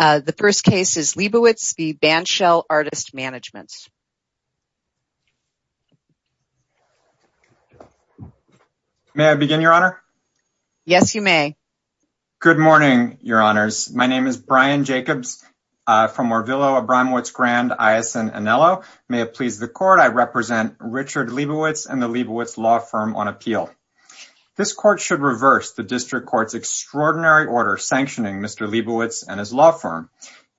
The first case is Liebowitz v. Bandshell Artist Management. May I begin, Your Honor? Yes, you may. Good morning, Your Honors. My name is Brian Jacobs from Orvillo, Abramowitz Grand, Ayosin, and Enelo. May it please the Court, I represent Richard Liebowitz and the Liebowitz Law Firm on appeal. This Court should reverse the District Court's extraordinary order sanctioning Mr. Liebowitz and his law firm.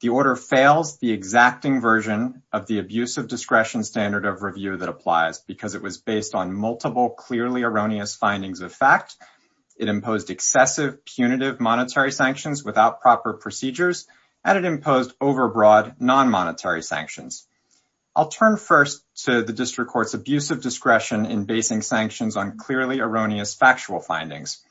The order fails the exacting version of the abuse of discretion standard of review that applies because it was based on multiple clearly erroneous findings of fact, it imposed excessive punitive monetary sanctions without proper procedures, and it imposed overbroad non-monetary sanctions. I'll turn first to the District Court's abuse of discretion in basing sanctions on clearly erroneous factual findings.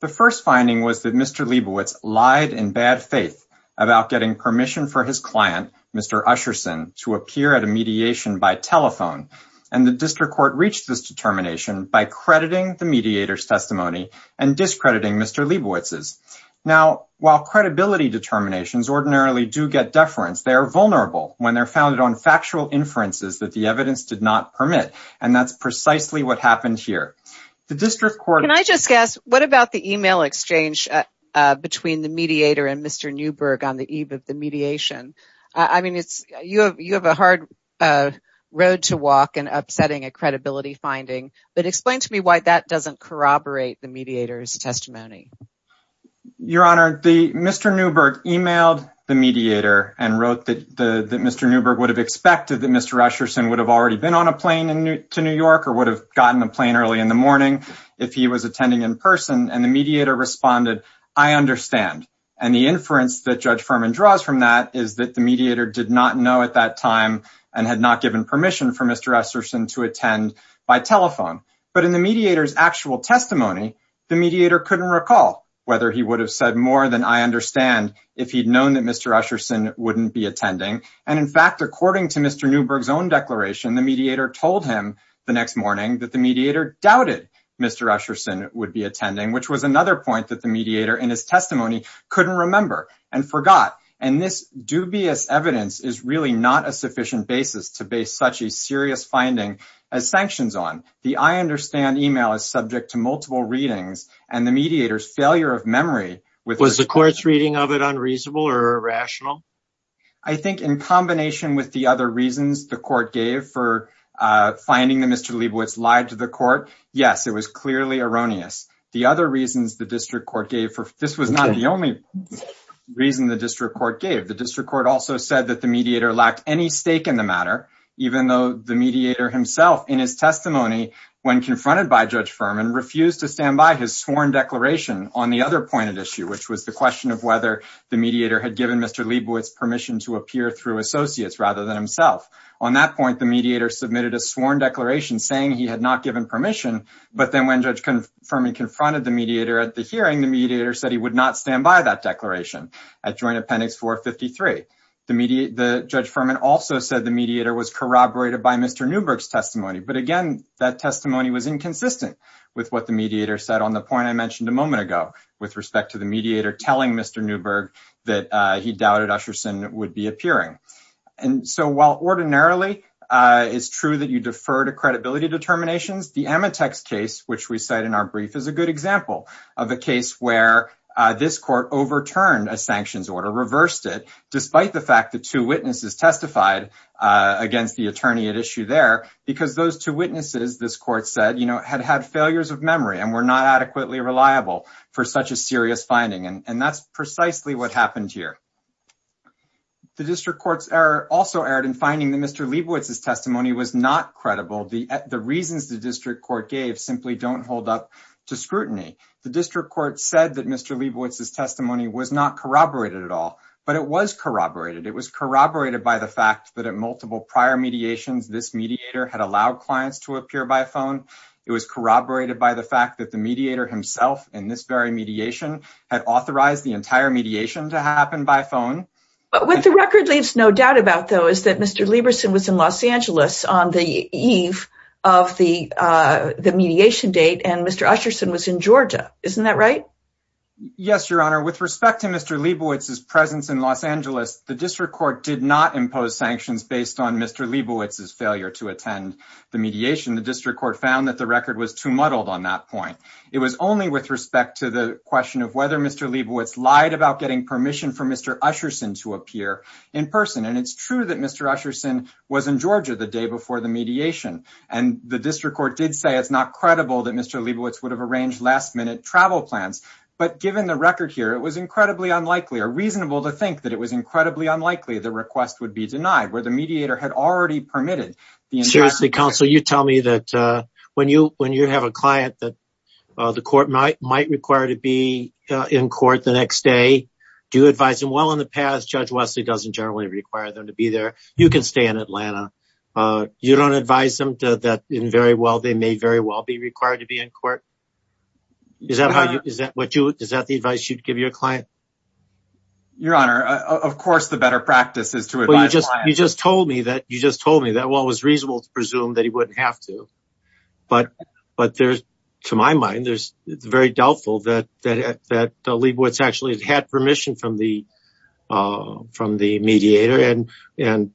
The first finding was that Mr. Liebowitz lied in bad faith about getting permission for his client, Mr. Usherson, to appear at a mediation by telephone, and the District Court reached this determination by crediting the mediator's testimony and discrediting Mr. Liebowitz's. Now, while credibility determinations ordinarily do get deference, they are vulnerable when they're founded on factual inferences that the evidence did not permit, and that's precisely what happened here. The District Court... Can I just ask, what about the email exchange between the mediator and Mr. Newberg on the eve of the mediation? I mean, you have a hard road to walk in upsetting a credibility finding, but explain to me why that doesn't corroborate the mediator's testimony. Your Honor, Mr. Newberg emailed the mediator and wrote that Mr. Newberg would have expected that early in the morning if he was attending in person, and the mediator responded, I understand. And the inference that Judge Furman draws from that is that the mediator did not know at that time and had not given permission for Mr. Usherson to attend by telephone. But in the mediator's actual testimony, the mediator couldn't recall whether he would have said more than I understand if he'd known that Mr. Usherson wouldn't be attending. And in fact, according to Mr. Newberg's own declaration, the mediator told him the next morning that the mediator doubted Mr. Usherson would be attending, which was another point that the mediator in his testimony couldn't remember and forgot. And this dubious evidence is really not a sufficient basis to base such a serious finding as sanctions on. The I understand email is subject to multiple readings and the mediator's failure of memory... Was the court's reading of it unreasonable or irrational? I think in combination with the other reasons the court gave for finding that Mr. Leibowitz lied to the court, yes, it was clearly erroneous. The other reasons the district court gave for... This was not the only reason the district court gave. The district court also said that the mediator lacked any stake in the matter, even though the mediator himself in his testimony, when confronted by Judge Furman, refused to stand by his sworn declaration on the other issue, which was the question of whether the mediator had given Mr. Leibowitz permission to appear through associates rather than himself. On that point, the mediator submitted a sworn declaration saying he had not given permission. But then when Judge Furman confronted the mediator at the hearing, the mediator said he would not stand by that declaration at Joint Appendix 453. The judge Furman also said the mediator was corroborated by Mr. Newberg's testimony. But again, that testimony was inconsistent with what the mediator said on the point I mentioned a to the mediator telling Mr. Newberg that he doubted Usherson would be appearing. And so while ordinarily it's true that you defer to credibility determinations, the Amatex case, which we cite in our brief, is a good example of a case where this court overturned a sanctions order, reversed it, despite the fact that two witnesses testified against the attorney at issue there, because those two witnesses, this court said, had had failures of memory and were not adequately reliable for such a serious finding. And that's precisely what happened here. The district courts also erred in finding that Mr. Leibowitz's testimony was not credible. The reasons the district court gave simply don't hold up to scrutiny. The district court said that Mr. Leibowitz's testimony was not corroborated at all, but it was corroborated. It was corroborated by the fact that at multiple prior mediations, this mediator had allowed clients to appear by phone. It was corroborated by the fact that the mediator himself in this very mediation had authorized the entire mediation to happen by phone. But what the record leaves no doubt about, though, is that Mr. Leibowitz was in Los Angeles on the eve of the mediation date, and Mr. Usherson was in Georgia. Isn't that right? Yes, Your Honor. With respect to Mr. Leibowitz's presence in Los Angeles, the district court did not impose sanctions based on Mr. Leibowitz's failure to attend the mediation. The district court found that the record was too muddled on that point. It was only with respect to the question of whether Mr. Leibowitz lied about getting permission for Mr. Usherson to appear in person. And it's true that Mr. Usherson was in Georgia the day before the mediation, and the district court did say it's not credible that Mr. Leibowitz would have arranged last-minute travel plans. But given the record here, it was incredibly unlikely or reasonable to think that it was incredibly unlikely the request would be denied, where the mediator had already permitted. Seriously, counsel, you tell me that when you have a client that the court might require to be in court the next day, do you advise them? Well, in the past, Judge Wesley doesn't generally require them to be there. You can stay in Atlanta. You don't advise them that they may very well be required to be in court? Is that the advice you'd give your client? Your Honor, of course the better practice is to advise the client. Well, you just told me that it was reasonable to presume that he wouldn't have to. But to my mind, it's very doubtful that Leibowitz actually had permission from the mediator. And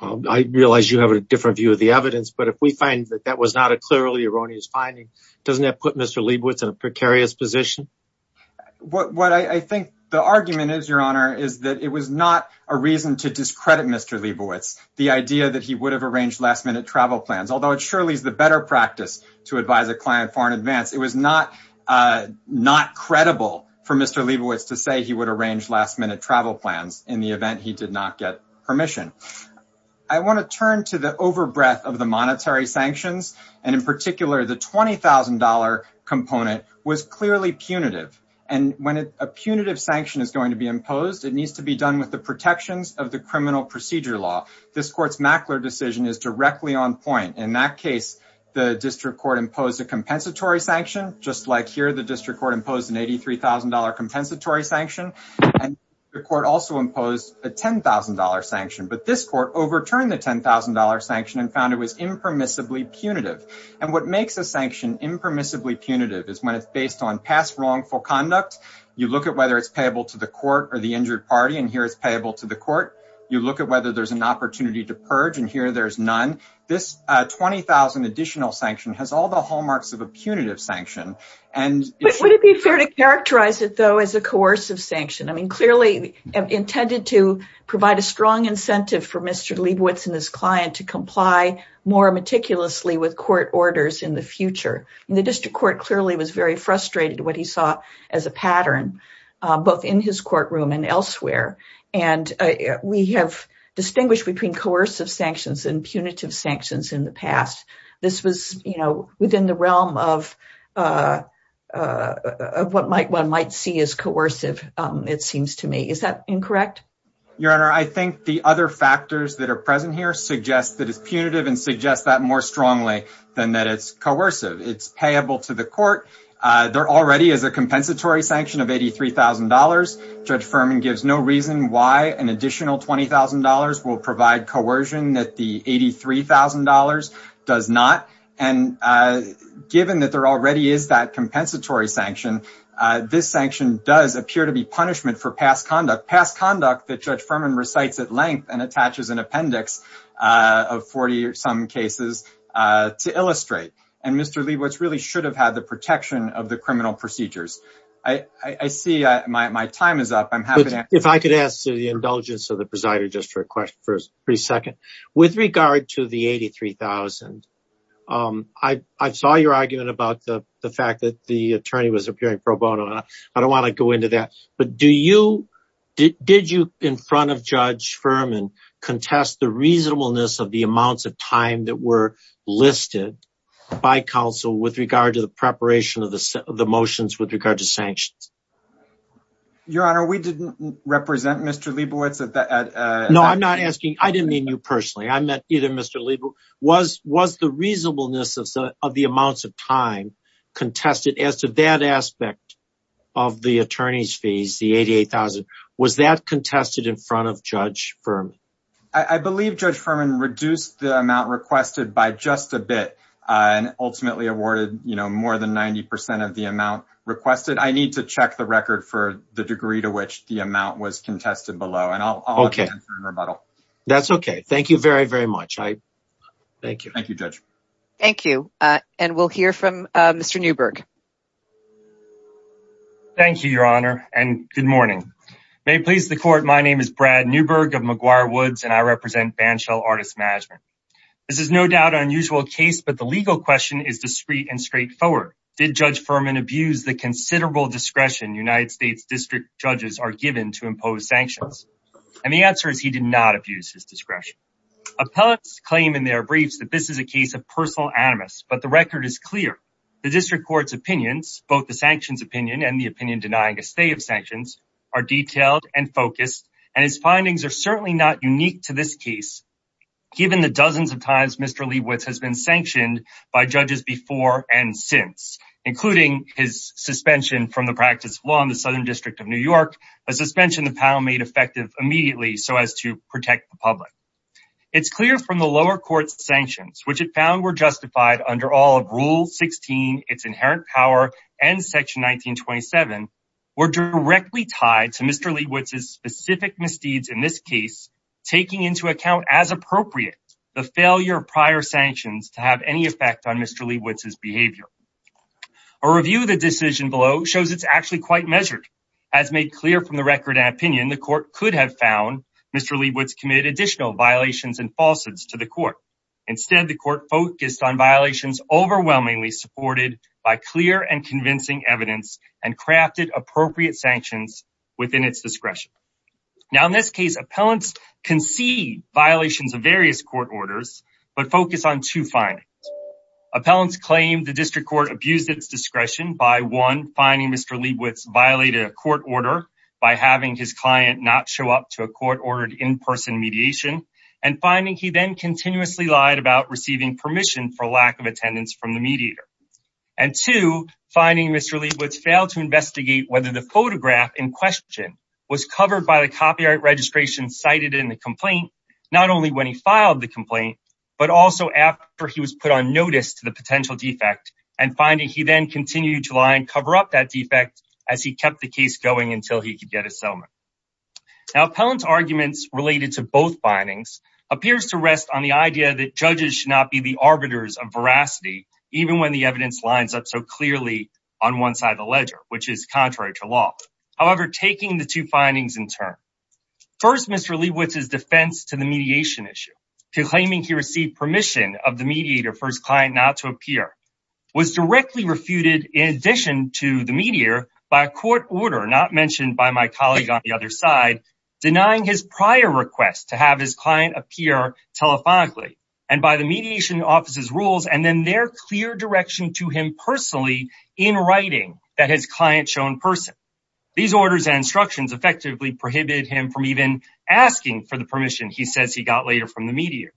I realize you have a different view of the evidence, but if we find that that was not a clearly erroneous finding, doesn't that put Mr. Leibowitz in a precarious position? What I think the argument is, Your Honor, is that it was not a reason to discredit Mr. Leibowitz, the idea that he would have arranged last-minute travel plans. Although it surely is the better practice to advise a client far in advance, it was not credible for Mr. Leibowitz to say he would arrange last-minute travel plans in the event he did not get permission. I want to turn to the overbreath of the monetary sanctions, and in particular the $20,000 component was clearly punitive. And when a punitive sanction is going to be imposed, it needs to be done with the protections of the criminal procedure law. This Court's Mackler decision is directly on point. In that case, the District Court imposed a compensatory sanction, just like here the District Court imposed an $83,000 compensatory sanction. And the Court also imposed a $10,000 sanction. But this Court overturned the $10,000 sanction and found it was impermissibly punitive. And what makes a sanction impermissibly punitive is when it's based on past wrongful conduct. You look at whether it's payable to the court or the injured party, and here it's payable to the court. You look at whether there's an opportunity to purge, and here there's none. This $20,000 additional sanction has all the hallmarks of a punitive sanction. Would it be fair to characterize it, though, as a coercive sanction? I mean, clearly intended to provide a strong incentive for Mr. Leibowitz and his client to comply more meticulously with court orders in the future. And the District Court clearly was very frustrated with what he saw as a pattern, both in his courtroom and elsewhere. And we have distinguished between coercive sanctions and punitive sanctions in the past. This was, you know, might see as coercive, it seems to me. Is that incorrect? Your Honor, I think the other factors that are present here suggest that it's punitive and suggest that more strongly than that it's coercive. It's payable to the court. There already is a compensatory sanction of $83,000. Judge Furman gives no reason why an additional $20,000 will provide coercion that the $83,000 does not. And given that there already is that does appear to be punishment for past conduct, past conduct that Judge Furman recites at length and attaches an appendix of 40 or some cases to illustrate. And Mr. Leibowitz really should have had the protection of the criminal procedures. I see my time is up. I'm happy to answer. If I could ask to the indulgence of the presider just for a question for a second. With regard to the $83,000, I saw your argument about the fact that the attorney was appearing pro bono. I don't want to go into that. But did you in front of Judge Furman contest the reasonableness of the amounts of time that were listed by counsel with regard to the preparation of the motions with regard to sanctions? Your Honor, we didn't represent Mr. Leibowitz. No, I'm not asking. I didn't mean you personally. I meant either Mr. Leibowitz. Was the reasonableness of the amounts of time contested as to that aspect of the attorney's fees, the $88,000, was that contested in front of Judge Furman? I believe Judge Furman reduced the amount requested by just a bit and ultimately awarded more than 90 percent of the amount requested. I need to check the record for the degree to which the amount was contested below. Okay. That's okay. Thank you very, very much. Thank you. Thank you, Judge. Thank you. And we'll hear from Mr. Newberg. Thank you, Your Honor, and good morning. May it please the court, my name is Brad Newberg of McGuire Woods, and I represent Banshell Artist Management. This is no doubt an unusual case, but the legal question is discreet and straightforward. Did Judge Furman abuse the considerable discretion United States district judges are given to impose sanctions? And the answer is he did not abuse his discretion. Appellants claim in their briefs that this is a case of personal animus, but the record is clear. The district court's opinions, both the sanctions opinion and the opinion denying a stay of sanctions, are detailed and focused, and his findings are certainly not unique to this case, given the dozens of times Mr. Leibowitz has been sanctioned by judges before and since, including his suspension from the practice of law in the to protect the public. It's clear from the lower court's sanctions, which it found were justified under all of Rule 16, its inherent power, and Section 1927, were directly tied to Mr. Leibowitz's specific misdeeds in this case, taking into account, as appropriate, the failure of prior sanctions to have any effect on Mr. Leibowitz's behavior. A review of the decision below shows it's actually quite measured. As made clear from the record and opinion, the court could have found Mr. Leibowitz committed additional violations and falsehoods to the court. Instead, the court focused on violations overwhelmingly supported by clear and convincing evidence and crafted appropriate sanctions within its discretion. Now, in this case, appellants concede violations of various court orders, but focus on two findings. Appellants claim the district court abused its violated a court order by having his client not show up to a court-ordered in-person mediation, and finding he then continuously lied about receiving permission for lack of attendance from the mediator. And two, finding Mr. Leibowitz failed to investigate whether the photograph in question was covered by the copyright registration cited in the complaint, not only when he filed the complaint, but also after he was put on notice to the potential defect, and finding he then continued to lie and cover up that defect as he kept the case going until he could get a settlement. Now, appellant's arguments related to both findings appears to rest on the idea that judges should not be the arbiters of veracity, even when the evidence lines up so clearly on one side of the ledger, which is contrary to law. However, taking the two findings in turn, first Mr. Leibowitz's defense to the mediation issue, to claiming he received permission of the mediator first client not to appear, was directly refuted in addition to the mediator by a court order, not mentioned by my colleague on the other side, denying his prior request to have his client appear telephonically, and by the mediation office's rules, and then their clear direction to him personally in writing that his client show in person. These orders and instructions effectively prohibited him from even asking for the permission he says he got later from the mediator.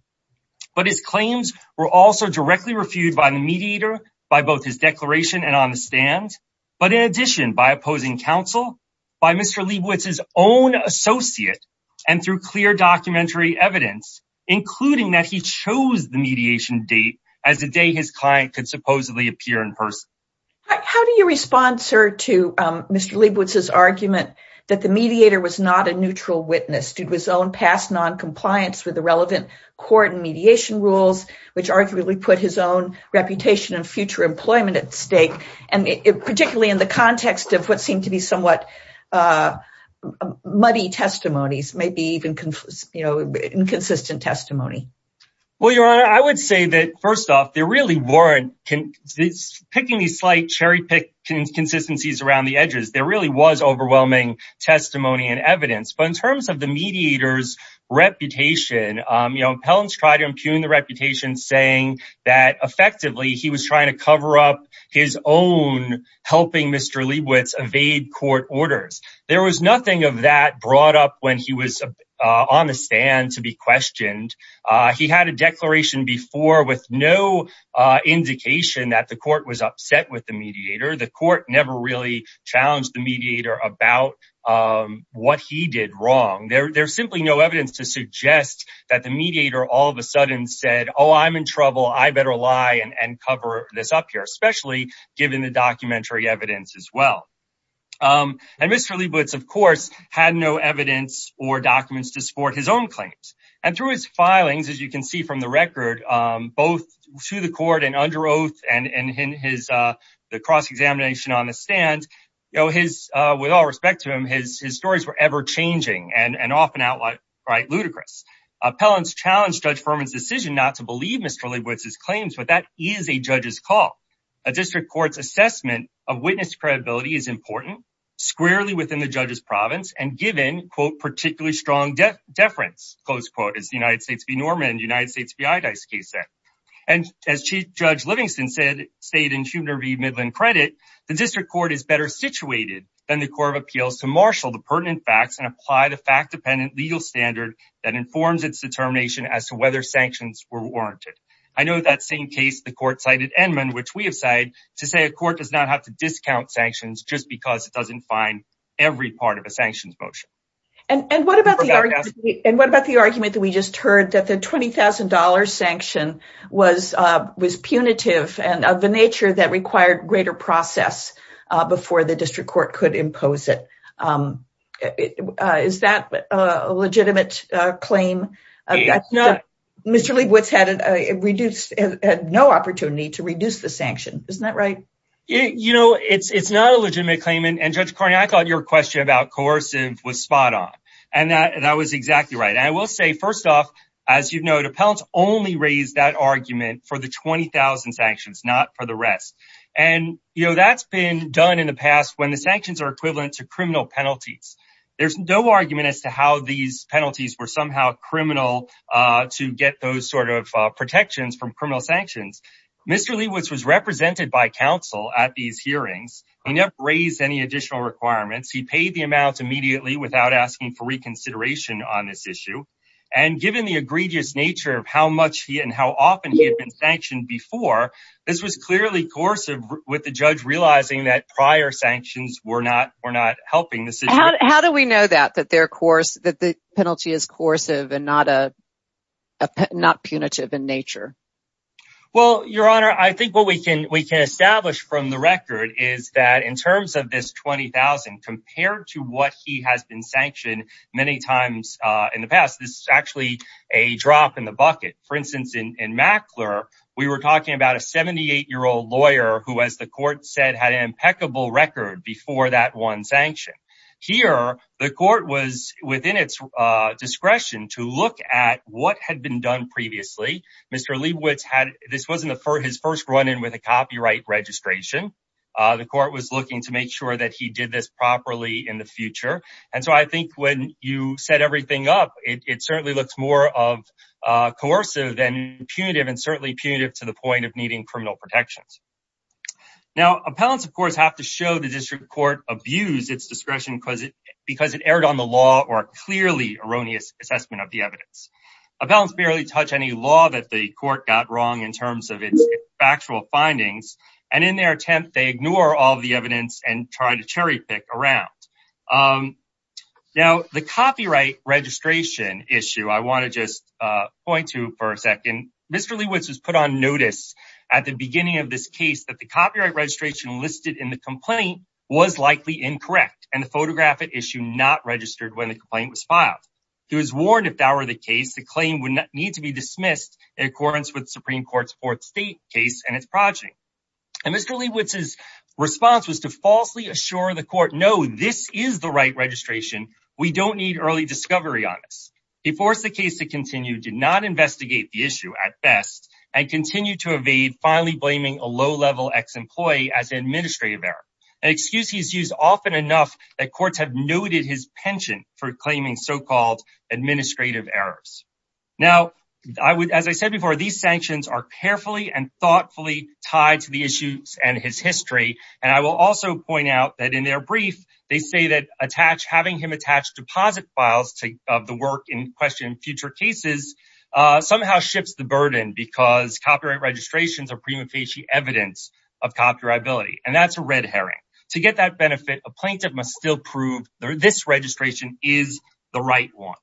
But his claims were also directly refuted by the mediator, by both his declaration and on the stand, but in addition by opposing counsel, by Mr. Leibowitz's own associate, and through clear documentary evidence, including that he chose the mediation date as the day his client could supposedly appear in person. How do you respond, sir, to Mr. Leibowitz's argument that the mediator was not a neutral witness, due to his own past non-compliance with the relevant court and mediation rules, which arguably put his own reputation and future employment at stake, and particularly in the context of what seemed to be somewhat muddy testimonies, maybe even you know inconsistent testimony? Well your honor, I would say that first off there really weren't, picking these slight cherry-picked consistencies around the edges, there really was overwhelming testimony and evidence. But in terms of the mediator's reputation, you know, Hellens tried to impugn the reputation saying that effectively he was trying to cover up his own helping Mr. Leibowitz evade court orders. There was nothing of that brought up when he was on the stand to be questioned. He had a declaration before with no indication that the court was upset with the mediator. The court never really challenged the mediator about what he did wrong. There's simply no evidence to suggest that the mediator all of a sudden said, oh, I'm in trouble, I better lie and cover this up here, especially given the documentary evidence as well. And Mr. Leibowitz, of course, had no evidence or documents to support his own claims. And through his filings, as you can see from the record, both to the court and under oath and in the cross-examination on the stand, with all respect to him, his stories were ever-changing and often outright ludicrous. Hellens challenged Judge Furman's decision not to believe Mr. Leibowitz's claims, but that is a judge's call. A district court's assessment of witness credibility is important, squarely within the judge's province and given, quote, particularly strong deference, close quote, as the United States v. Norman, United States v. Midland credit, the district court is better situated than the court of appeals to marshal the pertinent facts and apply the fact-dependent legal standard that informs its determination as to whether sanctions were warranted. I know that same case, the court cited Enman, which we have said to say a court does not have to discount sanctions just because it doesn't find every part of a sanctions motion. And what about the argument that we just heard that the $20,000 sanction was punitive and of the nature that required greater process before the district court could impose it? Is that a legitimate claim? Mr. Leibowitz had no opportunity to reduce the sanction. Isn't that right? You know, it's not a legitimate claim. And Judge Cornyn, I thought your question about coercive was spot on. And that was exactly right. And I will say, as you've noted, appellants only raised that argument for the 20,000 sanctions, not for the rest. And that's been done in the past when the sanctions are equivalent to criminal penalties. There's no argument as to how these penalties were somehow criminal to get those sort of protections from criminal sanctions. Mr. Leibowitz was represented by counsel at these hearings. He never raised any additional requirements. He paid the amounts immediately without asking for given the egregious nature of how much he and how often he had been sanctioned before. This was clearly coercive with the judge realizing that prior sanctions were not helping the situation. How do we know that, that the penalty is coercive and not punitive in nature? Well, your honor, I think what we can establish from the record is that in terms of this 20,000 compared to what he has been sanctioned many times in the past, this is actually a drop in the bucket. For instance, in Mackler, we were talking about a 78-year-old lawyer who, as the court said, had an impeccable record before that one sanction. Here, the court was within its discretion to look at what had been done previously. Mr. Leibowitz had, this wasn't his first run in with a copyright registration. The court was looking to make sure that he did this properly in the future. I think when you set everything up, it certainly looks more coercive than punitive and certainly punitive to the point of needing criminal protections. Now, appellants, of course, have to show the district court abused its discretion because it erred on the law or clearly erroneous assessment of the evidence. Appellants barely touch any law that the court got wrong in terms of its factual findings. In their attempt, they ignore all the evidence and try to cherry pick around. Now, the copyright registration issue, I want to just point to for a second, Mr. Leibowitz was put on notice at the beginning of this case that the copyright registration listed in the complaint was likely incorrect and the photographic issue not registered when the complaint was filed. He was warned if that were the case, the claim would need to be dismissed in accordance with the Supreme Court's fourth state project. Mr. Leibowitz's response was to falsely assure the court, no, this is the right registration. We don't need early discovery on this. He forced the case to continue, did not investigate the issue at best, and continued to evade finally blaming a low-level ex-employee as an administrative error, an excuse he's used often enough that courts have noted his penchant for claiming so-called administrative errors. Now, as I said before, these sanctions are carefully and thoughtfully tied to the issues and his history, and I will also point out that in their brief, they say that having him attach deposit files of the work in question in future cases somehow shifts the burden because copyright registrations are prima facie evidence of copyrightability, and that's a red herring. To get that benefit, a plaintiff must still prove this registration is the right one.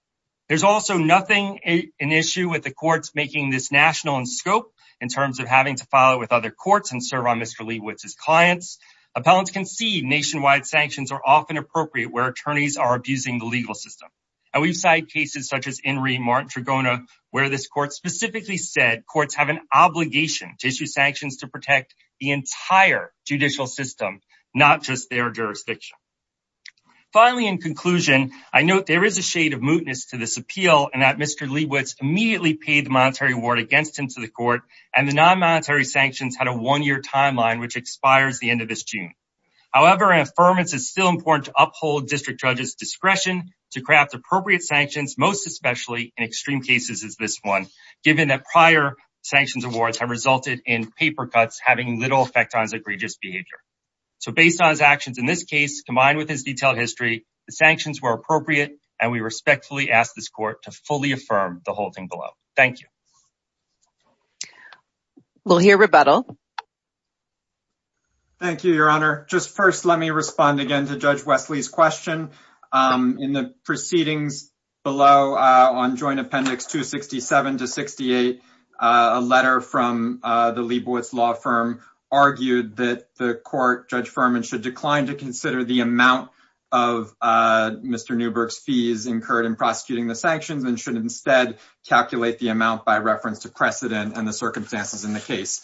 There's also nothing an issue with the courts making this national in scope in terms of having to file it with other courts and serve on Mr. Leibowitz's clients. Appellants can see nationwide sanctions are often appropriate where attorneys are abusing the legal system, and we've cited cases such as Enri Martin-Tragona where this court specifically said courts have an obligation to issue sanctions to protect the entire judicial system, not just their jurisdiction. Finally, in conclusion, I note there is a shade of mootness to this appeal and that Mr. Leibowitz immediately paid the monetary award against him to the court, and the non-monetary sanctions had a one-year timeline which expires the end of this June. However, an affirmance is still important to uphold district judges' discretion to craft appropriate sanctions, most especially in extreme cases as this one, given that prior sanctions awards have resulted in paper cuts having little effect on his egregious behavior. So based on his actions in this case, combined with his detailed history, the sanctions were appropriate and we respectfully ask this court to fully affirm the whole thing below. Thank you. We'll hear rebuttal. Thank you, Your Honor. Just first, let me respond again to Judge Wesley's question. In the proceedings below on Joint Appendix 267 to 268, a letter from the Leibowitz law firm argued that the court, Judge Furman, should decline to consider the amount of Mr. Newberg's fees incurred in prosecuting the sanctions and should instead calculate the amount by reference to precedent and the circumstances in the case,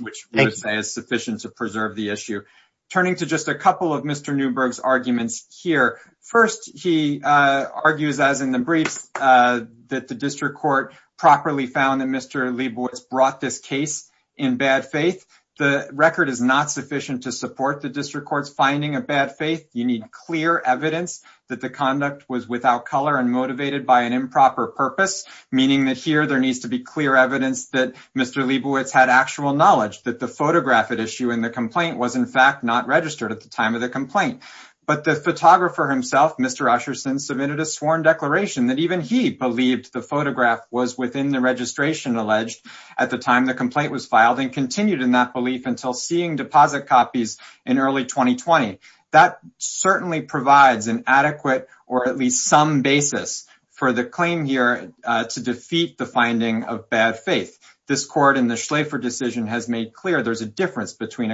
which I would say is sufficient to preserve the issue. Turning to just a couple of Mr. Newberg's arguments here, first he argues, as in the briefs, that the district court properly found that Mr. Leibowitz brought this case in bad faith. The record is not sufficient to support the district court's finding of bad faith. You need clear evidence that the conduct was without color and motivated by an improper purpose, meaning that here there needs to be clear evidence that Mr. Leibowitz had actual knowledge that the photograph at issue in the complaint was in fact not registered at the time of the complaint. But the photographer himself, Mr. Usherson, submitted a sworn declaration that even he believed the photograph was within the registration alleged at the time the complaint was filed and continued in that belief until seeing deposit copies in early 2020. That certainly provides an adequate or at least some basis for the claim here to defeat the finding of bad faith. This court in the Schlaefer decision has made clear there's a difference between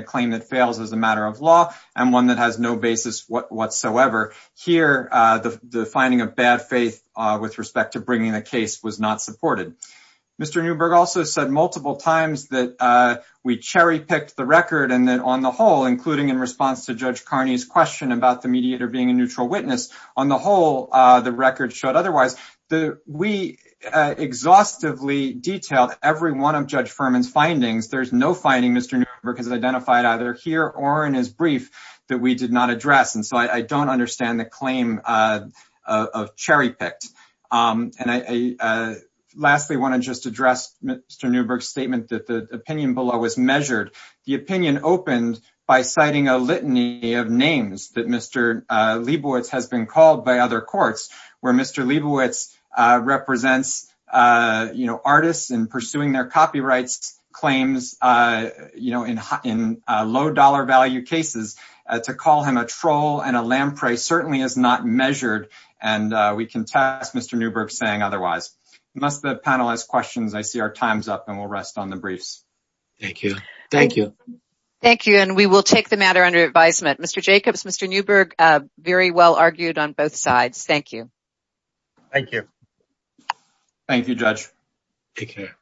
a whatsoever. Here the finding of bad faith with respect to bringing the case was not supported. Mr. Newberg also said multiple times that we cherry picked the record and then on the whole, including in response to Judge Carney's question about the mediator being a neutral witness, on the whole the record showed otherwise. We exhaustively detailed every one of Judge Furman's findings. There's no finding Mr. Newberg has identified either here or in his brief that we did not address. So I don't understand the claim of cherry picked. Lastly, I want to just address Mr. Newberg's statement that the opinion below was measured. The opinion opened by citing a litany of names that Mr. Leibowitz has been called by other courts where Mr. Leibowitz represents artists in pursuing their copyright claims in low dollar value cases. To call him a troll and a lamprey certainly is not measured and we can test Mr. Newberg saying otherwise. Unless the panel has questions, I see our time's up and we'll rest on the briefs. Thank you. Thank you. Thank you and we will take the matter under advisement. Mr. Jacobs, Mr. Newberg, very well argued on both sides. Thank you. Thank you. Thank you, Judge. Take care.